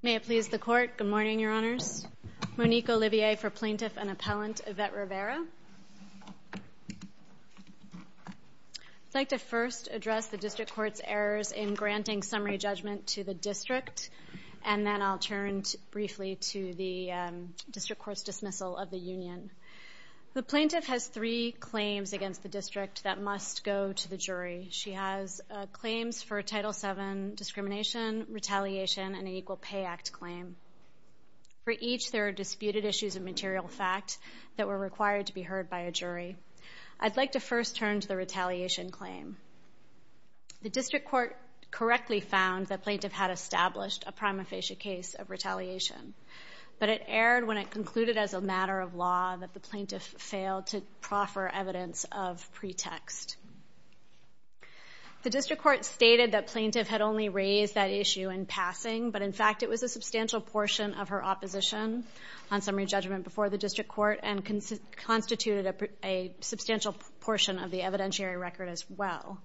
May it please the Court. Good morning, Your Honors. Monique Olivier for Plaintiff and Appellant Evette Rivera. I'd like to first address the District Court's errors in granting summary judgment to the District, and then I'll turn briefly to the District Court's dismissal of the Union. The Plaintiff has three claims against the District that must go to the jury. She has claims for Title VII discrimination, retaliation, and an Equal Pay Act claim. For each, there are disputed issues of material fact that were required to be heard by a jury. I'd like to first turn to the retaliation claim. The District Court correctly found the Plaintiff had established a prima facie case of retaliation, but it erred when it concluded as a matter of law that the Plaintiff failed to proffer evidence of pretext. The District Court stated that Plaintiff had only raised that issue in passing, but in fact it was a substantial portion of her opposition on summary judgment before the District Court and constituted a substantial portion of the evidentiary record as well.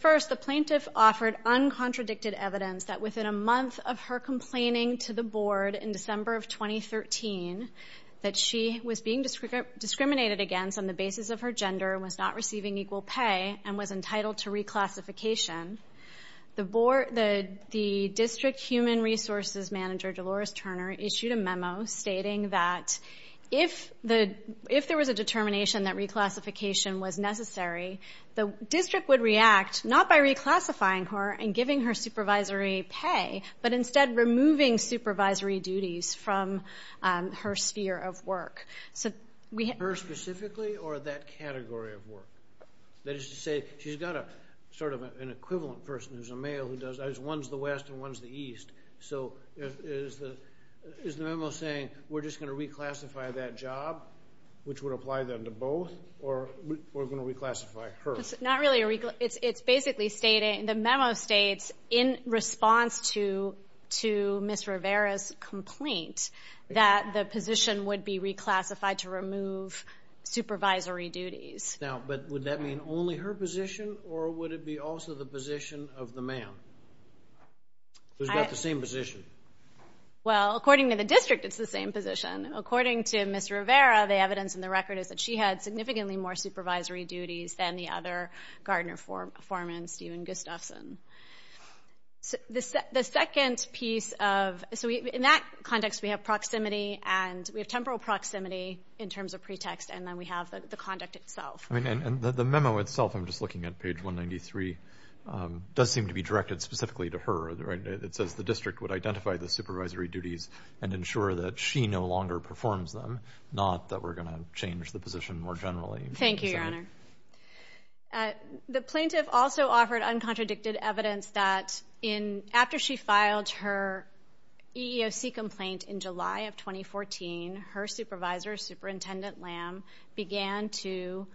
First, the Plaintiff offered uncontradicted evidence that within a month of her complaining to the Board in December of 2013 that she was being discriminated against on the basis of her gender, was not receiving equal pay, and was entitled to reclassification. The District Human Resources Manager, Dolores Turner, issued a memo stating that if there was a determination that reclassification was necessary, the District would react not by reclassifying her and giving her supervisory pay, but instead removing supervisory duties from her sphere of work. Her specifically or that category of work? That is to say, she's got sort of an equivalent person who's a male who does that. One's the West and one's the East. So is the memo saying we're just going to reclassify that job, which would apply then to both, or we're going to reclassify her? Not really. It's basically stating, the memo states, in response to Ms. Rivera's complaint that the position would be reclassified to remove supervisory duties. Now, but would that mean only her position, or would it be also the position of the man, who's got the same position? Well, according to the District, it's the same position. According to Ms. Rivera, the evidence in the record is that she had significantly more supervisory duties than the other Gardner foreman, Stephen Gustafson. The second piece of the memo, in that context we have proximity, and we have temporal proximity in terms of pretext, and then we have the conduct itself. The memo itself, I'm just looking at page 193, does seem to be directed specifically to her. It says the District would identify the supervisory duties and ensure that she no longer performs them, not that we're going to change the position more generally. Thank you, Your Honor. The plaintiff also offered uncontradicted evidence that after she filed her EEOC complaint in July of 2014, her supervisor, Superintendent Lamb, began to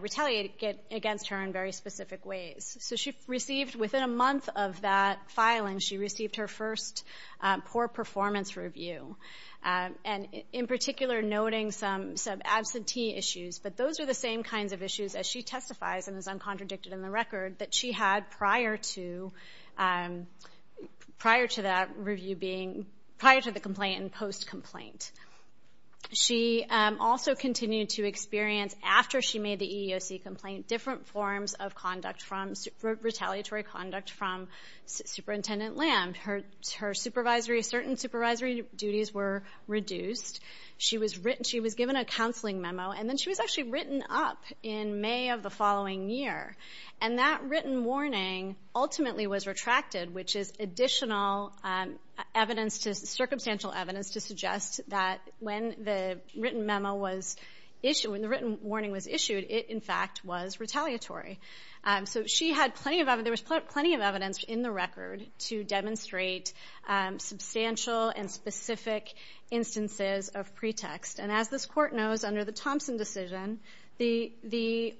retaliate against her in very specific ways. So she received, within a month of that filing, she received her first poor performance review, and in particular noting some absentee issues. But those are the same kinds of issues, as she testifies and is uncontradicted in the record, that she had prior to that review being, prior to the complaint and post-complaint. She also continued to experience, after she made the EEOC complaint, different forms of retaliatory conduct from Superintendent Lamb. Her supervisory, certain supervisory duties were reduced. She was given a counseling memo, and then she was actually written up in May of the following year. And that written warning ultimately was retracted, which is additional evidence, circumstantial evidence, to suggest that when the written memo was issued, when the written warning was issued, it, in fact, was retaliatory. So she had plenty of evidence, there was plenty of evidence in the record, to demonstrate substantial and specific instances of pretext. And as this Court knows, under the Thompson decision,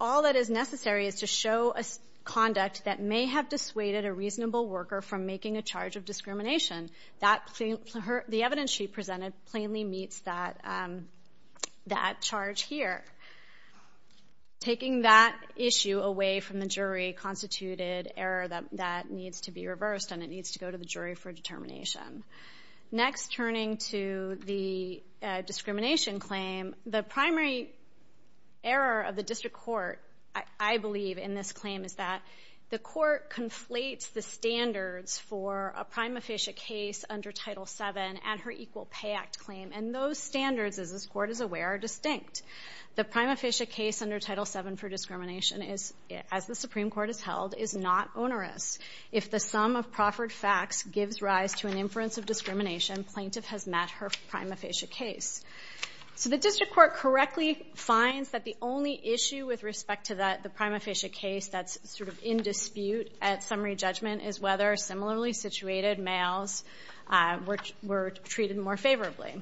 all that is necessary is to show conduct that may have dissuaded a reasonable worker from making a charge of discrimination. The evidence she presented plainly meets that charge here. Taking that issue away from the jury constituted error that needs to be reversed, and it needs to go to the jury for determination. Next, turning to the discrimination claim, the primary error of the district court, I believe, in this claim, is that the court conflates the standards for a prima facie case under Title VII and her Equal Pay Act claim. And those standards, as this Court is aware, are distinct. The prima facie case under Title VII for discrimination, as the Supreme Court has held, is not onerous. If the sum of proffered facts gives rise to an inference of discrimination, plaintiff has met her prima facie case. So the district court correctly finds that the only issue with respect to that, the prima facie case that's sort of in dispute at summary judgment, is whether similarly situated males were treated more favorably.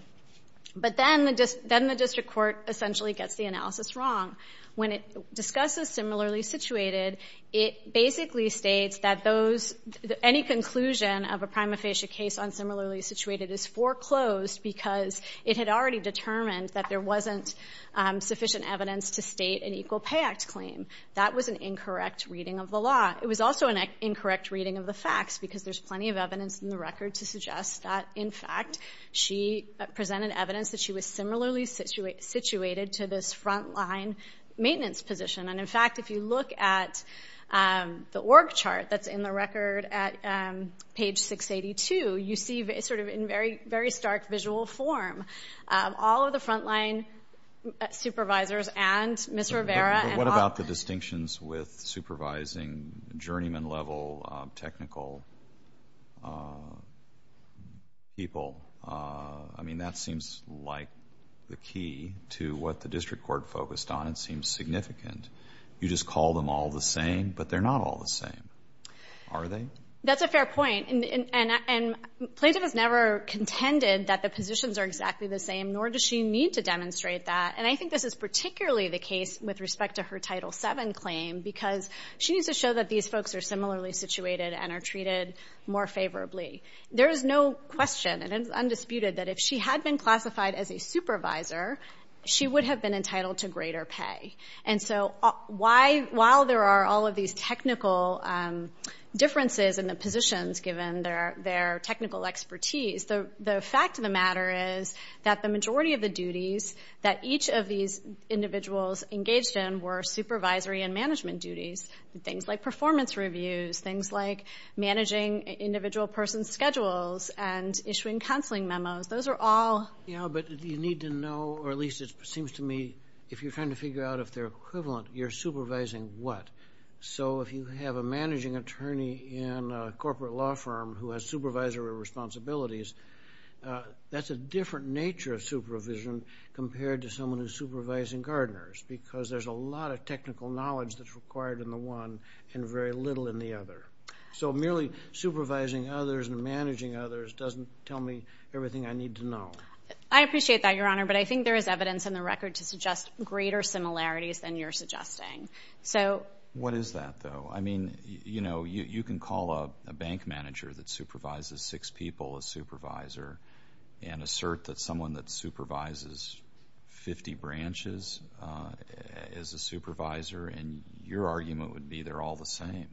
But then the district court essentially gets the analysis wrong. When it discusses similarly situated, it basically states that those, any conclusion of a prima facie case on similarly situated is foreclosed because it had already determined that there wasn't sufficient evidence to state an Equal Pay Act claim. That was an incorrect reading of the law. It was also an incorrect reading of the facts because there's plenty of evidence in the record to suggest that, in fact, she presented evidence that she was similarly situated to this front line maintenance position. And, in fact, if you look at the org chart that's in the record at page 682, you see sort of in very stark visual form all of the front line supervisors and Ms. Rivera and Hoffman. But what about the distinctions with supervising journeyman level technical people? I mean, that seems like the key to what the district court focused on. It seems significant. You just call them all the same, but they're not all the same, are they? That's a fair point. And Plaintiff has never contended that the positions are exactly the same, nor does she need to demonstrate that. And I think this is particularly the case with respect to her Title VII claim because she needs to show that these folks are similarly situated and are treated more favorably. There is no question and it is undisputed that if she had been classified as a supervisor, she would have been entitled to greater pay. And so while there are all of these technical differences in the positions given their technical expertise, the fact of the matter is that the majority of the duties that each of these individuals engaged in were supervisory and management duties, things like performance reviews, things like managing individual person's schedules and issuing counseling memos. Those are all. But you need to know, or at least it seems to me, if you're trying to figure out if they're equivalent, you're supervising what. So if you have a managing attorney in a corporate law firm who has supervisory responsibilities, that's a different nature of supervision compared to someone who's supervising gardeners because there's a lot of technical knowledge that's required in the one and very little in the other. So merely supervising others and managing others doesn't tell me everything I need to know. I appreciate that, Your Honor, but I think there is evidence in the record to suggest greater similarities than you're suggesting. So. What is that, though? I mean, you know, you can call a bank manager that supervises six people a supervisor and assert that someone that supervises 50 branches is a supervisor, and your argument would be they're all the same.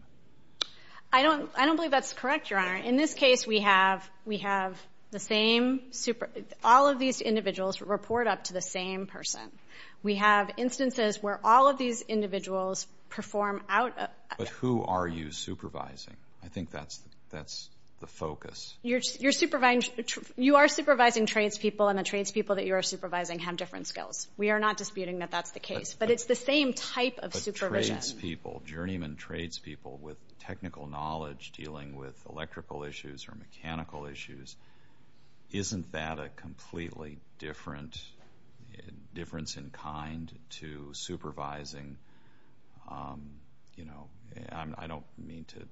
I don't believe that's correct, Your Honor. In this case, we have all of these individuals report up to the same person. We have instances where all of these individuals perform out of. But who are you supervising? I think that's the focus. You are supervising tradespeople, and the tradespeople that you are supervising have different skills. We are not disputing that that's the case. But it's the same type of supervision. Tradespeople, journeyman tradespeople with technical knowledge, dealing with electrical issues or mechanical issues, isn't that a completely different difference in kind to supervising? You know, I don't mean to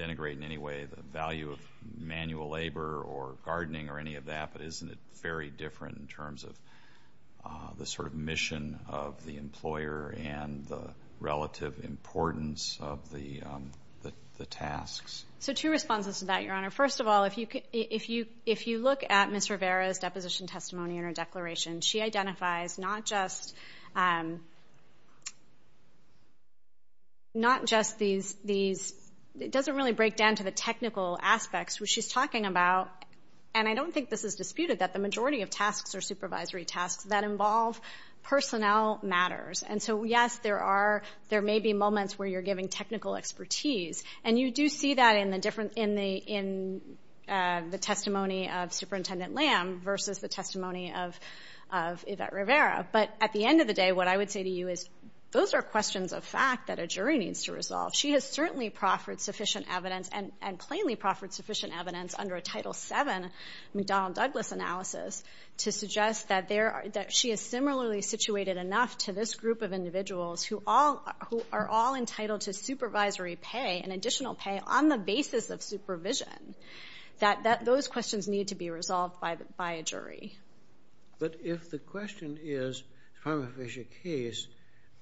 denigrate in any way the value of manual labor or gardening or any of that, but isn't it very different in terms of the sort of mission of the employer and the relative importance of the tasks? So two responses to that, Your Honor. First of all, if you look at Ms. Rivera's deposition testimony in her declaration, she identifies not just these. It doesn't really break down to the technical aspects which she's talking about, and I don't think this is disputed that the majority of tasks are supervisory tasks that involve personnel matters. And so, yes, there may be moments where you're giving technical expertise, and you do see that in the testimony of Superintendent Lamb versus the testimony of Yvette Rivera. But at the end of the day, what I would say to you is those are questions of fact that a jury needs to resolve. She has certainly proffered sufficient evidence and plainly proffered sufficient evidence under a Title VII McDonnell-Douglas analysis to suggest that she is similarly situated enough to this group of individuals who are all entitled to supervisory pay and additional pay on the basis of supervision, that those questions need to be resolved by a jury. But if the question is prima facie case,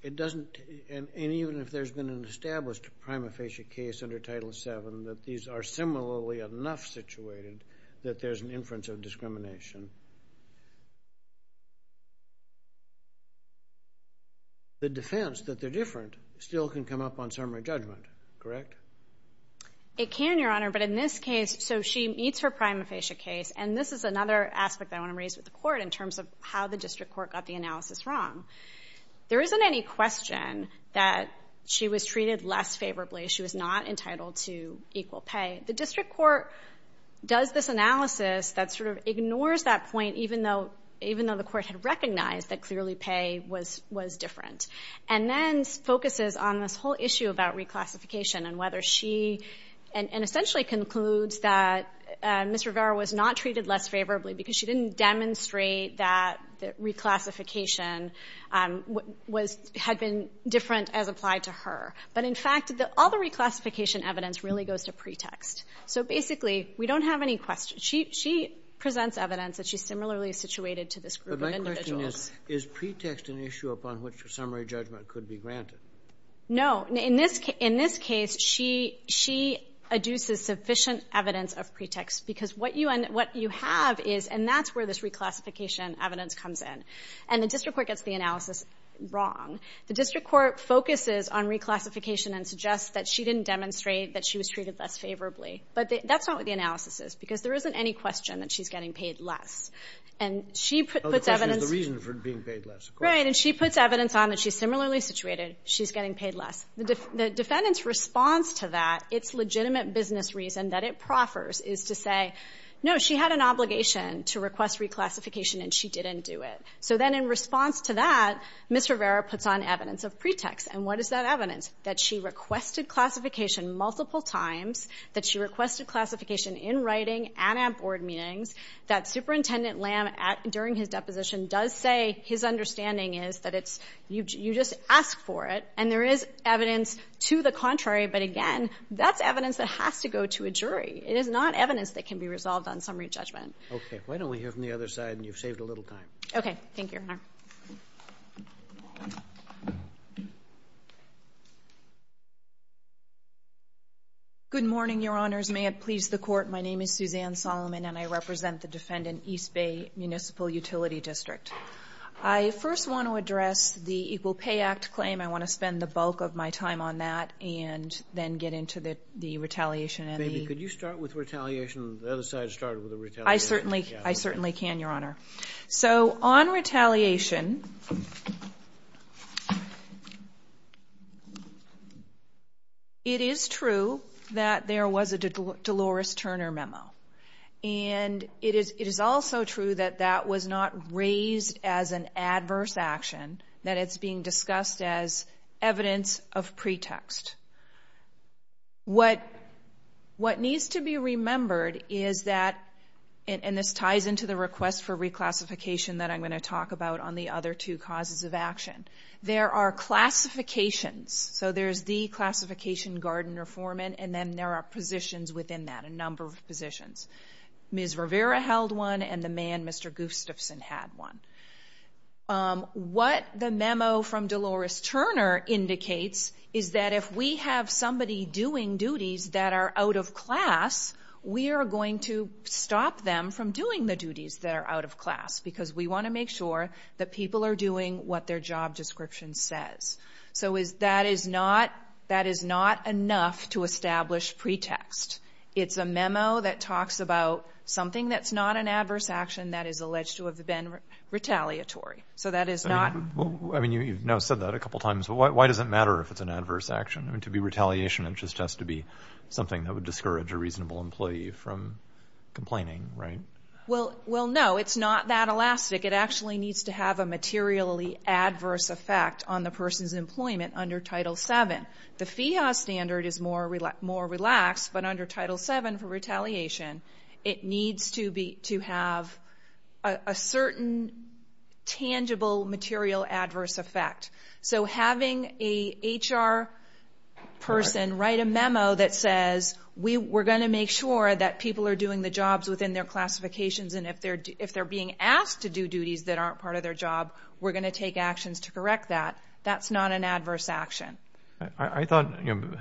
it doesn't, and even if there's been an established prima facie case under Title VII that these are similarly enough situated that there's an inference of discrimination, the defense that they're different still can come up on summary judgment, correct? It can, Your Honor, but in this case, so she meets her prima facie case, and this is another aspect I want to raise with the court in terms of how the district court got the analysis wrong. There isn't any question that she was treated less favorably. She was not entitled to equal pay. The district court does this analysis that sort of ignores that point, even though the court had recognized that clearly pay was different, and then focuses on this whole issue about reclassification and whether she, and essentially concludes that Ms. Rivera was not treated less favorably because she didn't demonstrate that reclassification had been different as applied to her. But in fact, all the reclassification evidence really goes to pretext. So basically, we don't have any questions. She presents evidence that she's similarly situated to this group of individuals. But my question is, is pretext an issue upon which a summary judgment could be granted? No. In this case, she adduces sufficient evidence of pretext, because what you have is, and that's where this reclassification evidence comes in. And the district court gets the analysis wrong. The district court focuses on reclassification and suggests that she didn't demonstrate that she was treated less favorably. But that's not what the analysis is, because there isn't any question that she's getting paid less. And she puts evidence. The question is the reason for being paid less. Right. And she puts evidence on that she's similarly situated. She's getting paid less. The defendant's response to that, its legitimate business reason that it proffers, is to say, no, she had an obligation to request reclassification, and she didn't do it. So then in response to that, Ms. Rivera puts on evidence of pretext. And what is that evidence? That she requested classification multiple times, that she requested classification in writing and at board meetings, that Superintendent Lamb, during his deposition, does say his understanding is that you just ask for it, and there is evidence to the contrary. But again, that's evidence that has to go to a jury. It is not evidence that can be resolved on summary judgment. Okay. Why don't we hear from the other side, and you've saved a little time. Okay. Thank you, Your Honor. Good morning, Your Honors. May it please the Court, my name is Suzanne Solomon, and I represent the defendant, East Bay Municipal Utility District. I first want to address the Equal Pay Act claim. I want to spend the bulk of my time on that, and then get into the retaliation. Maybe could you start with retaliation? The other side started with retaliation. I certainly can, Your Honor. So on retaliation, it is true that there was a Dolores Turner memo. And it is also true that that was not raised as an adverse action, that it's being discussed as evidence of pretext. What needs to be remembered is that, and this ties into the request for reclassification that I'm going to talk about on the other two causes of action, there are classifications. So there's the classification, Gardner-Forman, and then there are positions within that, a number of positions. Ms. Rivera held one, and the man, Mr. Gustafson, had one. What the memo from Dolores Turner indicates is that if we have somebody doing duties that are out of class, we are going to stop them from doing the duties that are out of class, because we want to make sure that people are doing what their job description says. So that is not enough to establish pretext. It's a memo that talks about something that's not an adverse action that is alleged to have been retaliatory. So that is not. Well, I mean, you've now said that a couple times, but why does it matter if it's an adverse action? I mean, to be retaliation, it just has to be something that would discourage a reasonable employee from complaining, right? Well, no, it's not that elastic. It actually needs to have a materially adverse effect on the person's employment under Title VII. The FEHA standard is more relaxed, but under Title VII for retaliation, it needs to have a certain tangible material adverse effect. So having a HR person write a memo that says, we're going to make sure that people are doing the jobs within their classifications, and if they're being asked to do duties that aren't part of their job, we're going to take actions to correct that, that's not an adverse action. I thought, you know,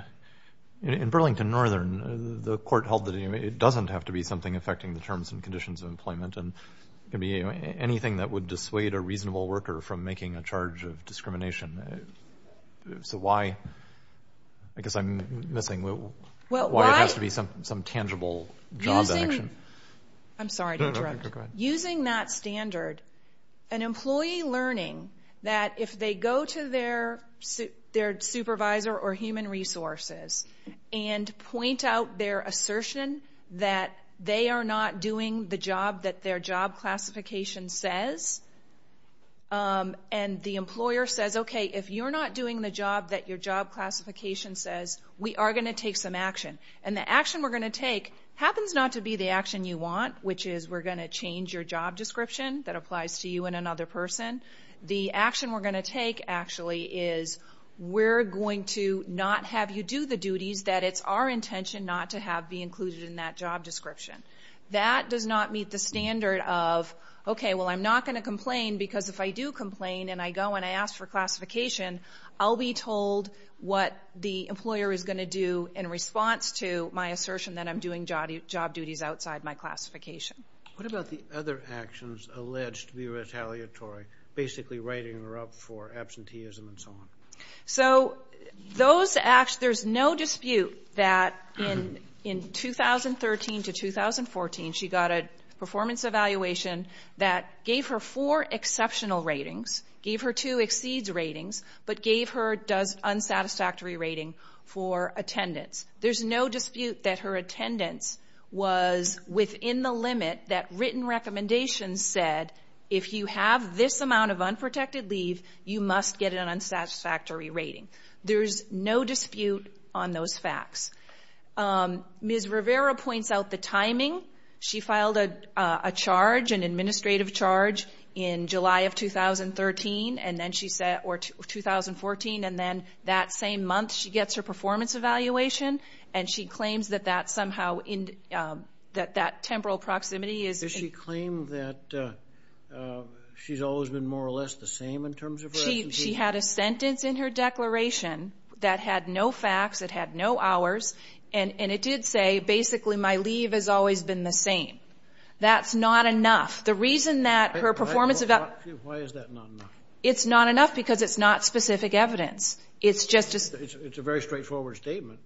in Burlington Northern, the court held that it doesn't have to be something affecting the terms and conditions of employment, and it could be anything that would dissuade a reasonable worker from making a charge of discrimination. So why, I guess I'm missing, why it has to be some tangible job action? I'm sorry, Director. No, go ahead. Using that standard, an employee learning that if they go to their supervisor or human resources and point out their assertion that they are not doing the job that their job classification says, and the employer says, okay, if you're not doing the job that your job classification says, we are going to take some action. And the action we're going to take happens not to be the action you want, which is we're going to change your job description that applies to you and another person. The action we're going to take actually is we're going to not have you do the duties that it's our intention not to have be included in that job description. That does not meet the standard of, okay, well, I'm not going to complain because if I do complain and I go and I ask for classification, I'll be told what the employer is going to do in response to my assertion that I'm doing job duties outside my classification. What about the other actions alleged to be retaliatory, basically writing her up for absenteeism and so on? So there's no dispute that in 2013 to 2014, she got a performance evaluation that gave her four exceptional ratings, gave her two exceeds ratings, but gave her an unsatisfactory rating for attendance. There's no dispute that her attendance was within the limit that written recommendations said, if you have this amount of unprotected leave, you must get an unsatisfactory rating. There's no dispute on those facts. Ms. Rivera points out the timing. She filed a charge, an administrative charge, in July of 2013 or 2014, and then that same month she gets her performance evaluation, and she claims that that temporal proximity is- Does she claim that she's always been more or less the same in terms of her absenteeism? She had a sentence in her declaration that had no facts, it had no hours, and it did say, basically, my leave has always been the same. That's not enough. The reason that her performance evaluation- Why is that not enough? It's not enough because it's not specific evidence. It's just a- It's a very straightforward statement.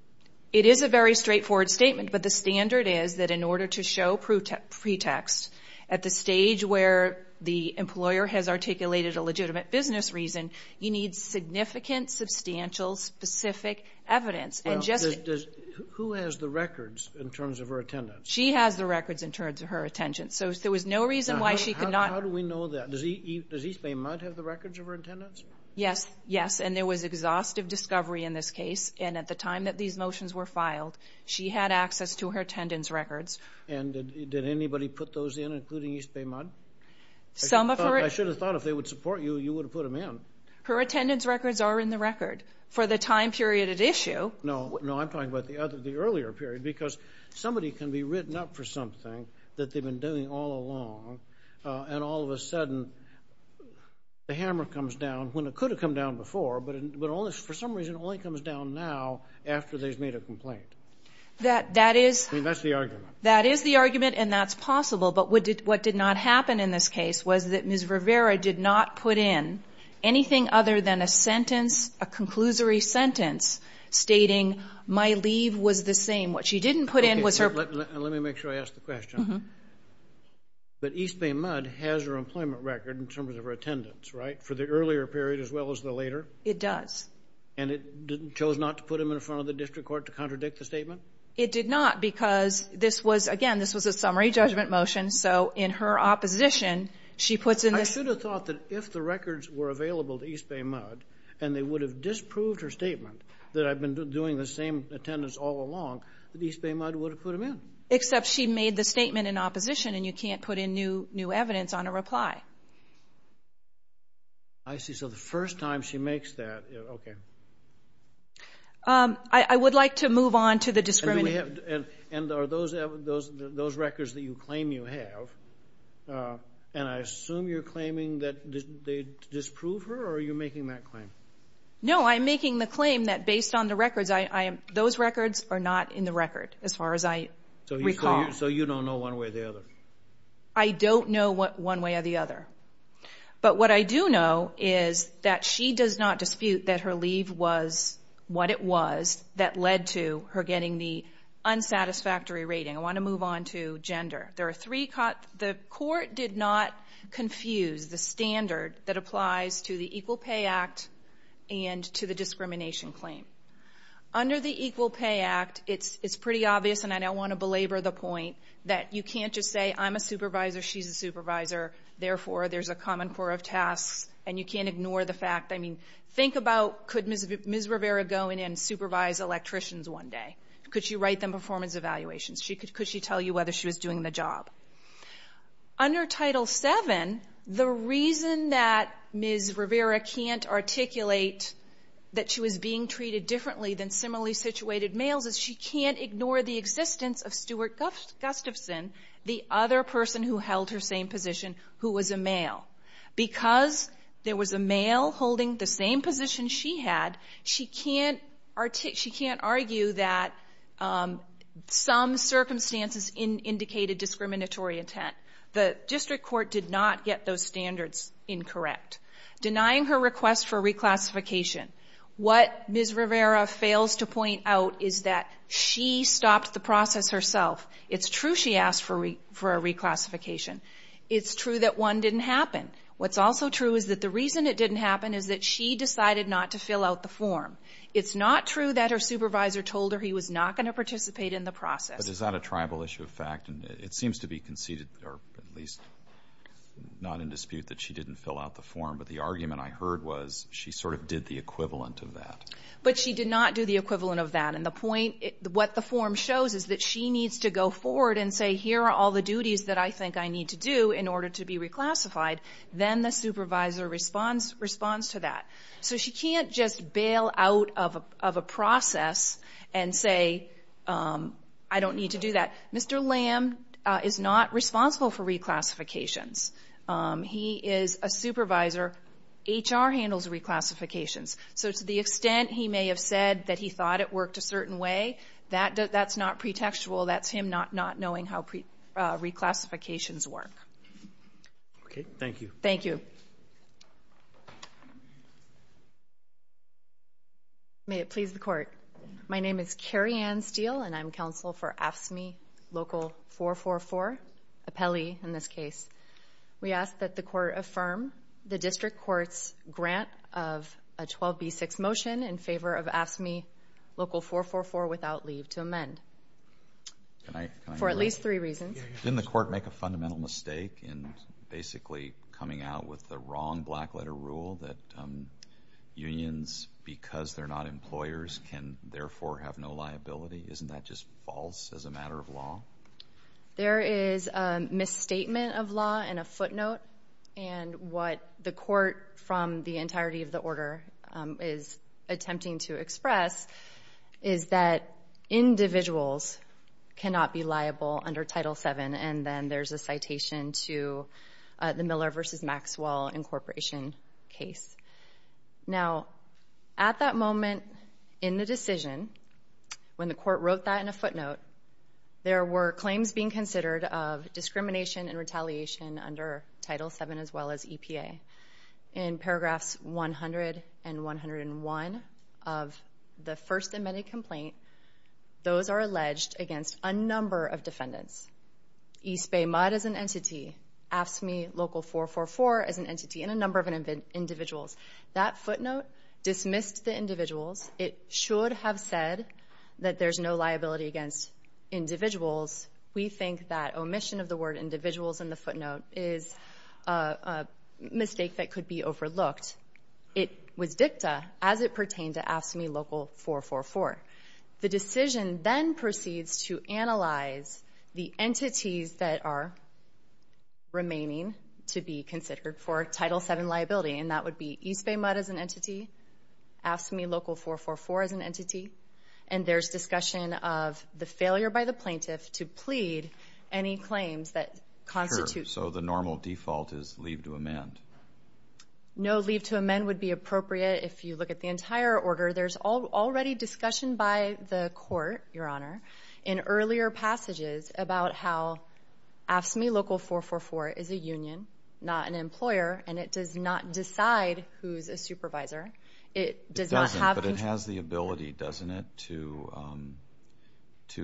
It is a very straightforward statement, but the standard is that in order to show pretext at the stage where the employer has articulated a legitimate business reason, you need significant, substantial, specific evidence. Who has the records in terms of her attendance? She has the records in terms of her attendance, so there was no reason why she could not- How do we know that? Does East Bay MUD have the records of her attendance? Yes, yes, and there was exhaustive discovery in this case, and at the time that these motions were filed, she had access to her attendance records. And did anybody put those in, including East Bay MUD? Some of her- I should have thought if they would support you, you would have put them in. Her attendance records are in the record. For the time period at issue- No, I'm talking about the earlier period, because somebody can be written up for something that they've been doing all along, and all of a sudden the hammer comes down when it could have come down before, but for some reason it only comes down now after they've made a complaint. That is- I mean, that's the argument. That is the argument, and that's possible, but what did not happen in this case was that Ms. Rivera did not put in anything other than a sentence, a conclusory sentence, stating my leave was the same. What she didn't put in was her- Let me make sure I ask the question. But East Bay MUD has her employment record in terms of her attendance, right, for the earlier period as well as the later? It does. And it chose not to put them in front of the district court to contradict the statement? It did not because this was, again, this was a summary judgment motion, so in her opposition she puts in this- I should have thought that if the records were available to East Bay MUD and they would have disproved her statement that I've been doing the same attendance all along, that East Bay MUD would have put them in. Except she made the statement in opposition and you can't put in new evidence on a reply. I see. So the first time she makes that, okay. I would like to move on to the discrimination. And are those records that you claim you have, and I assume you're claiming that they disprove her or are you making that claim? No, I'm making the claim that based on the records, those records are not in the record as far as I recall. So you don't know one way or the other? I don't know one way or the other. But what I do know is that she does not dispute that her leave was what it was that led to her getting the unsatisfactory rating. I want to move on to gender. The court did not confuse the standard that applies to the Equal Pay Act and to the discrimination claim. Under the Equal Pay Act, it's pretty obvious, and I don't want to belabor the point, that you can't just say I'm a supervisor, she's a supervisor, therefore there's a common core of tasks and you can't ignore the fact. I mean, think about could Ms. Rivera go in and supervise electricians one day? Could she write them performance evaluations? Could she tell you whether she was doing the job? Under Title VII, the reason that Ms. Rivera can't articulate that she was being treated differently than similarly situated males is she can't ignore the existence of Stuart Gustafson, the other person who held her same position, who was a male. Because there was a male holding the same position she had, she can't argue that some circumstances indicated discriminatory intent. The district court did not get those standards incorrect. Denying her request for reclassification. What Ms. Rivera fails to point out is that she stopped the process herself. It's true she asked for a reclassification. It's true that one didn't happen. What's also true is that the reason it didn't happen is that she decided not to fill out the form. It's not true that her supervisor told her he was not going to participate in the process. But is that a tribal issue of fact? It seems to be conceded, or at least not in dispute, that she didn't fill out the form. But the argument I heard was she sort of did the equivalent of that. But she did not do the equivalent of that. And the point, what the form shows is that she needs to go forward and say, here are all the duties that I think I need to do in order to be reclassified. Then the supervisor responds to that. So she can't just bail out of a process and say, I don't need to do that. Mr. Lamb is not responsible for reclassifications. He is a supervisor. HR handles reclassifications. So to the extent he may have said that he thought it worked a certain way, that's not pretextual. That's him not knowing how reclassifications work. Okay, thank you. Thank you. May it please the Court. My name is Carrie Ann Steele, and I'm counsel for AFSCME Local 444, Apelli in this case. We ask that the Court affirm the District Court's grant of a 12b6 motion in favor of AFSCME Local 444 without leave to amend. For at least three reasons. Didn't the Court make a fundamental mistake in basically coming out with the wrong black letter rule that unions, because they're not employers, can therefore have no liability? Isn't that just false as a matter of law? There is a misstatement of law and a footnote. And what the Court, from the entirety of the order, is attempting to express is that individuals cannot be liable under Title VII, and then there's a citation to the Miller v. Maxwell incorporation case. Now, at that moment in the decision, when the Court wrote that in a footnote, there were claims being considered of discrimination and retaliation under Title VII as well as EPA. In paragraphs 100 and 101 of the first amended complaint, those are alleged against a number of defendants. East Bay MUD as an entity, AFSCME Local 444 as an entity, and a number of individuals. That footnote dismissed the individuals. It should have said that there's no liability against individuals. We think that omission of the word individuals in the footnote is a mistake that could be overlooked. It was dicta as it pertained to AFSCME Local 444. The decision then proceeds to analyze the entities that are remaining to be considered for Title VII liability, and that would be East Bay MUD as an entity, AFSCME Local 444 as an entity, and there's discussion of the failure by the plaintiff to plead any claims that constitute. Sure, so the normal default is leave to amend. No leave to amend would be appropriate if you look at the entire order. There's already discussion by the Court, Your Honor, in earlier passages about how AFSCME Local 444 is a union, not an employer, and it does not decide who's a supervisor. It doesn't, but it has the ability, doesn't it, to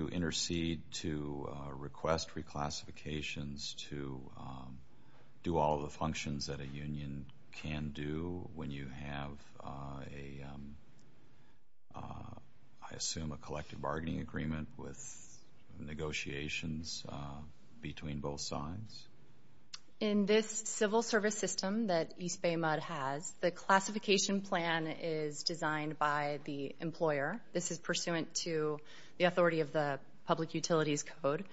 intercede, to request reclassifications, to do all the functions that a union can do when you have, I assume, a collective bargaining agreement with negotiations between both sides? In this civil service system that East Bay MUD has, the classification plan is designed by the employer. This is pursuant to the authority of the Public Utilities Code.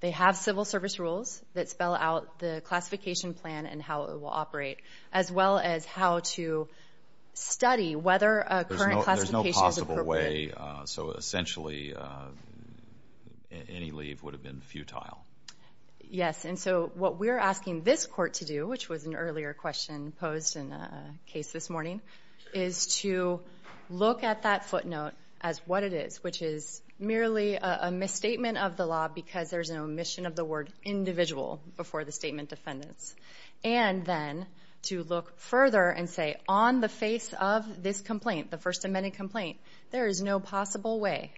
They have civil service rules that spell out the classification plan and how it will operate, as well as how to study whether a current classification is appropriate. There's no possible way, so essentially any leave would have been futile. Yes, and so what we're asking this Court to do, which was an earlier question posed in a case this morning, is to look at that footnote as what it is, which is merely a misstatement of the law because there's an omission of the word individual before the statement defendants, and then to look further and say on the face of this complaint, the First Amendment complaint, there is no possible way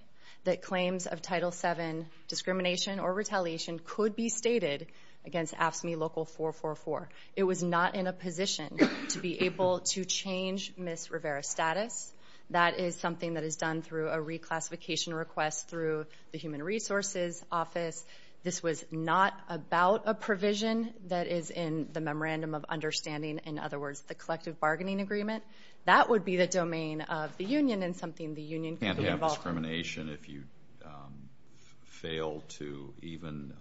that claims of Title VII discrimination or retaliation could be stated against AFSCME Local 444. It was not in a position to be able to change Ms. Rivera's status. That is something that is done through a reclassification request through the Human Resources Office. This was not about a provision that is in the Memorandum of Understanding, in other words, the collective bargaining agreement. That would be the domain of the union and something the union could be involved in. Can't you have discrimination if you fail to even,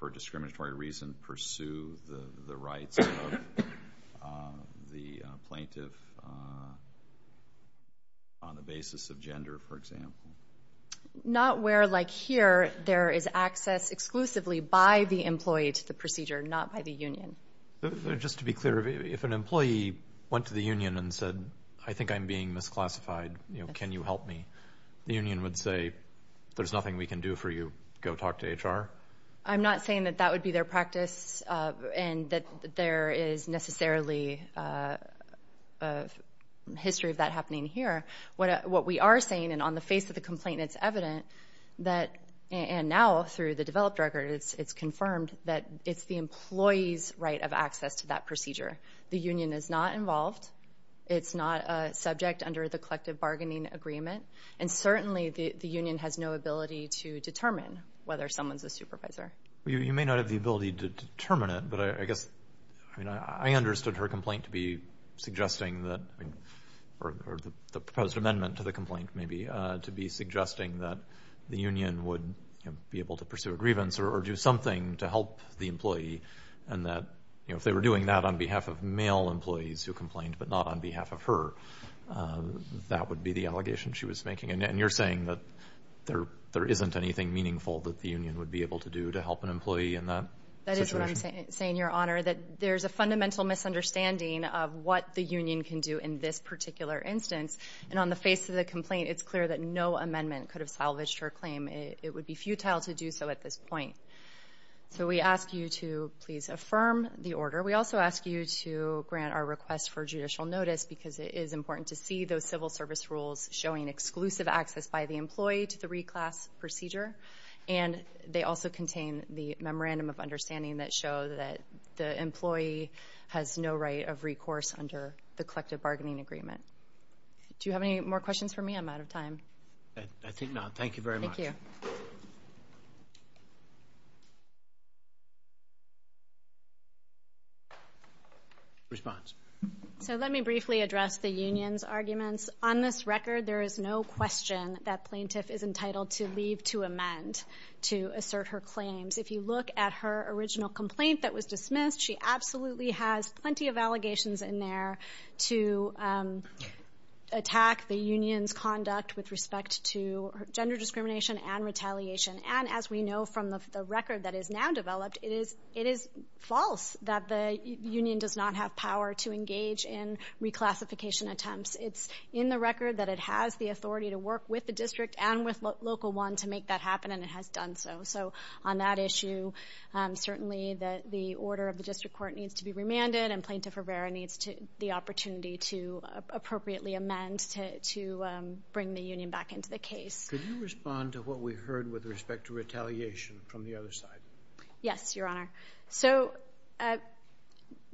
for a discriminatory reason, pursue the rights of the plaintiff on the basis of gender, for example? Not where, like here, there is access exclusively by the employee to the procedure, not by the union. Just to be clear, if an employee went to the union and said, I think I'm being misclassified, can you help me, the union would say, there's nothing we can do for you, go talk to HR? I'm not saying that that would be their practice and that there is necessarily a history of that happening here. What we are saying, and on the face of the complaint, it's evident that, and now through the developed record, it's confirmed that it's the employee's right of access to that procedure. The union is not involved. It's not a subject under the collective bargaining agreement. And certainly the union has no ability to determine whether someone is a supervisor. You may not have the ability to determine it, but I guess I understood her complaint to be suggesting that, or the proposed amendment to the complaint maybe to be suggesting that the union would be able to pursue a grievance or do something to help the employee and that, you know, if they were doing that on behalf of male employees who complained but not on behalf of her, that would be the allegation she was making. And you're saying that there isn't anything meaningful that the union would be able to do to help an employee in that situation? That is what I'm saying, Your Honor, that there's a fundamental misunderstanding of what the union can do in this particular instance. And on the face of the complaint, it's clear that no amendment could have salvaged her claim. It would be futile to do so at this point. So we ask you to please affirm the order. We also ask you to grant our request for judicial notice because it is important to see those civil service rules showing exclusive access by the employee to the reclass procedure. And they also contain the memorandum of understanding that show that the employee has no right of recourse under the collective bargaining agreement. Do you have any more questions for me? I'm out of time. I think not. Thank you very much. Response. So let me briefly address the union's arguments. On this record, there is no question that plaintiff is entitled to leave to amend to assert her claims. If you look at her original complaint that was dismissed, she absolutely has plenty of allegations in there to attack the union's conduct with respect to gender discrimination and retaliation. And as we know from the record that is now developed, it is false that the union does not have power to engage in reclassification attempts. It's in the record that it has the authority to work with the district and with Local 1 to make that happen, and it has done so. So on that issue, certainly the order of the district court needs to be remanded, and Plaintiff Rivera needs the opportunity to appropriately amend to bring the union back into the case. Could you respond to what we heard with respect to retaliation from the other side? Yes, Your Honor. So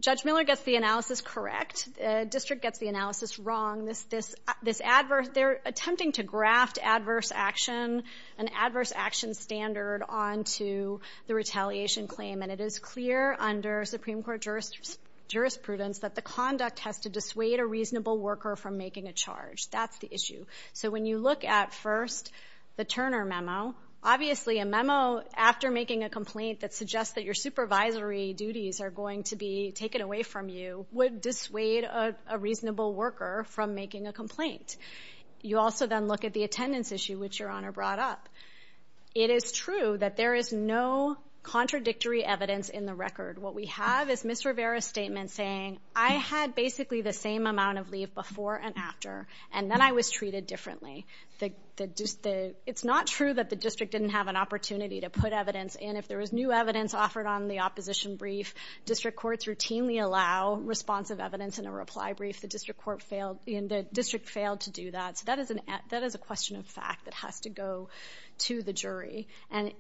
Judge Miller gets the analysis correct. The district gets the analysis wrong. They're attempting to graft an adverse action standard onto the retaliation claim, and it is clear under Supreme Court jurisprudence that the conduct has to dissuade a reasonable worker from making a charge. That's the issue. So when you look at, first, the Turner memo, obviously a memo after making a complaint that suggests that your supervisory duties are going to be taken away from you would dissuade a reasonable worker from making a complaint. You also then look at the attendance issue, which Your Honor brought up. It is true that there is no contradictory evidence in the record. What we have is Ms. Rivera's statement saying, I had basically the same amount of leave before and after, and then I was treated differently. It's not true that the district didn't have an opportunity to put evidence in. If there was new evidence offered on the opposition brief, district courts routinely allow responsive evidence in a reply brief. The district failed to do that, so that is a question of fact that has to go to the jury. And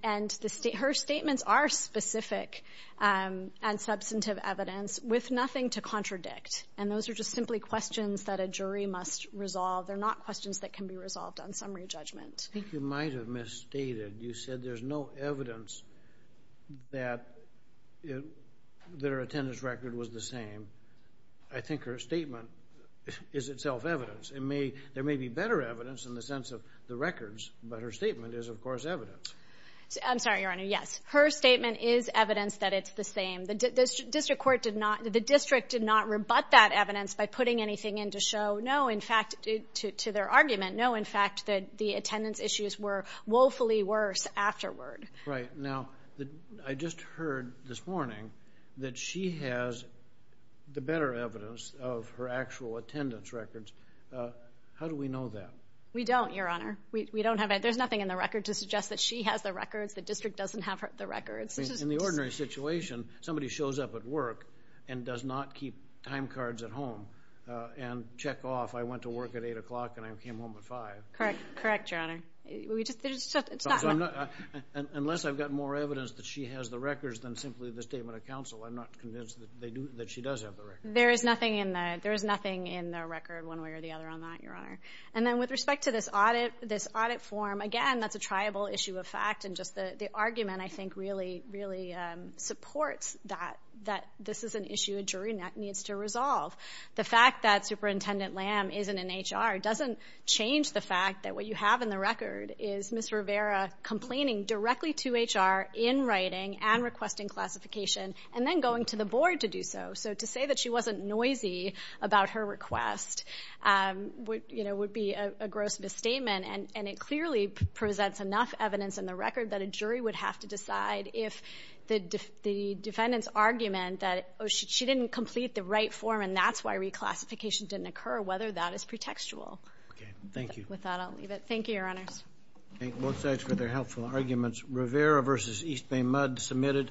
her statements are specific and substantive evidence with nothing to contradict, and those are just simply questions that a jury must resolve. They're not questions that can be resolved on summary judgment. I think you might have misstated. You said there's no evidence that their attendance record was the same. I think her statement is itself evidence. There may be better evidence in the sense of the records, but her statement is, of course, evidence. I'm sorry, Your Honor, yes. Her statement is evidence that it's the same. The district did not rebut that evidence by putting anything in to show, no, in fact, to their argument, no, in fact, that the attendance issues were woefully worse afterward. Right. Now, I just heard this morning that she has the better evidence of her actual attendance records. How do we know that? We don't, Your Honor. We don't have it. There's nothing in the record to suggest that she has the records. The district doesn't have the records. In the ordinary situation, somebody shows up at work and does not keep time cards at home and check off. I went to work at 8 o'clock and I came home at 5. Correct, Your Honor. Unless I've got more evidence that she has the records than simply the statement of counsel, I'm not convinced that she does have the records. There is nothing in the record one way or the other on that, Your Honor. And then with respect to this audit form, again, that's a triable issue of fact, and just the argument, I think, really supports that this is an issue a jury needs to resolve. The fact that Superintendent Lamb isn't in HR doesn't change the fact that what you have in the record is Ms. Rivera complaining directly to HR in writing and requesting classification and then going to the board to do so. So to say that she wasn't noisy about her request would be a gross misstatement, and it clearly presents enough evidence in the record that a jury would have to decide if the defendant's argument that she didn't complete the right form and that's why reclassification didn't occur, whether that is pretextual. Okay. Thank you. With that, I'll leave it. Thank you, Your Honors. Thank both sides for their helpful arguments. Rivera v. East Bay Mudd submitted.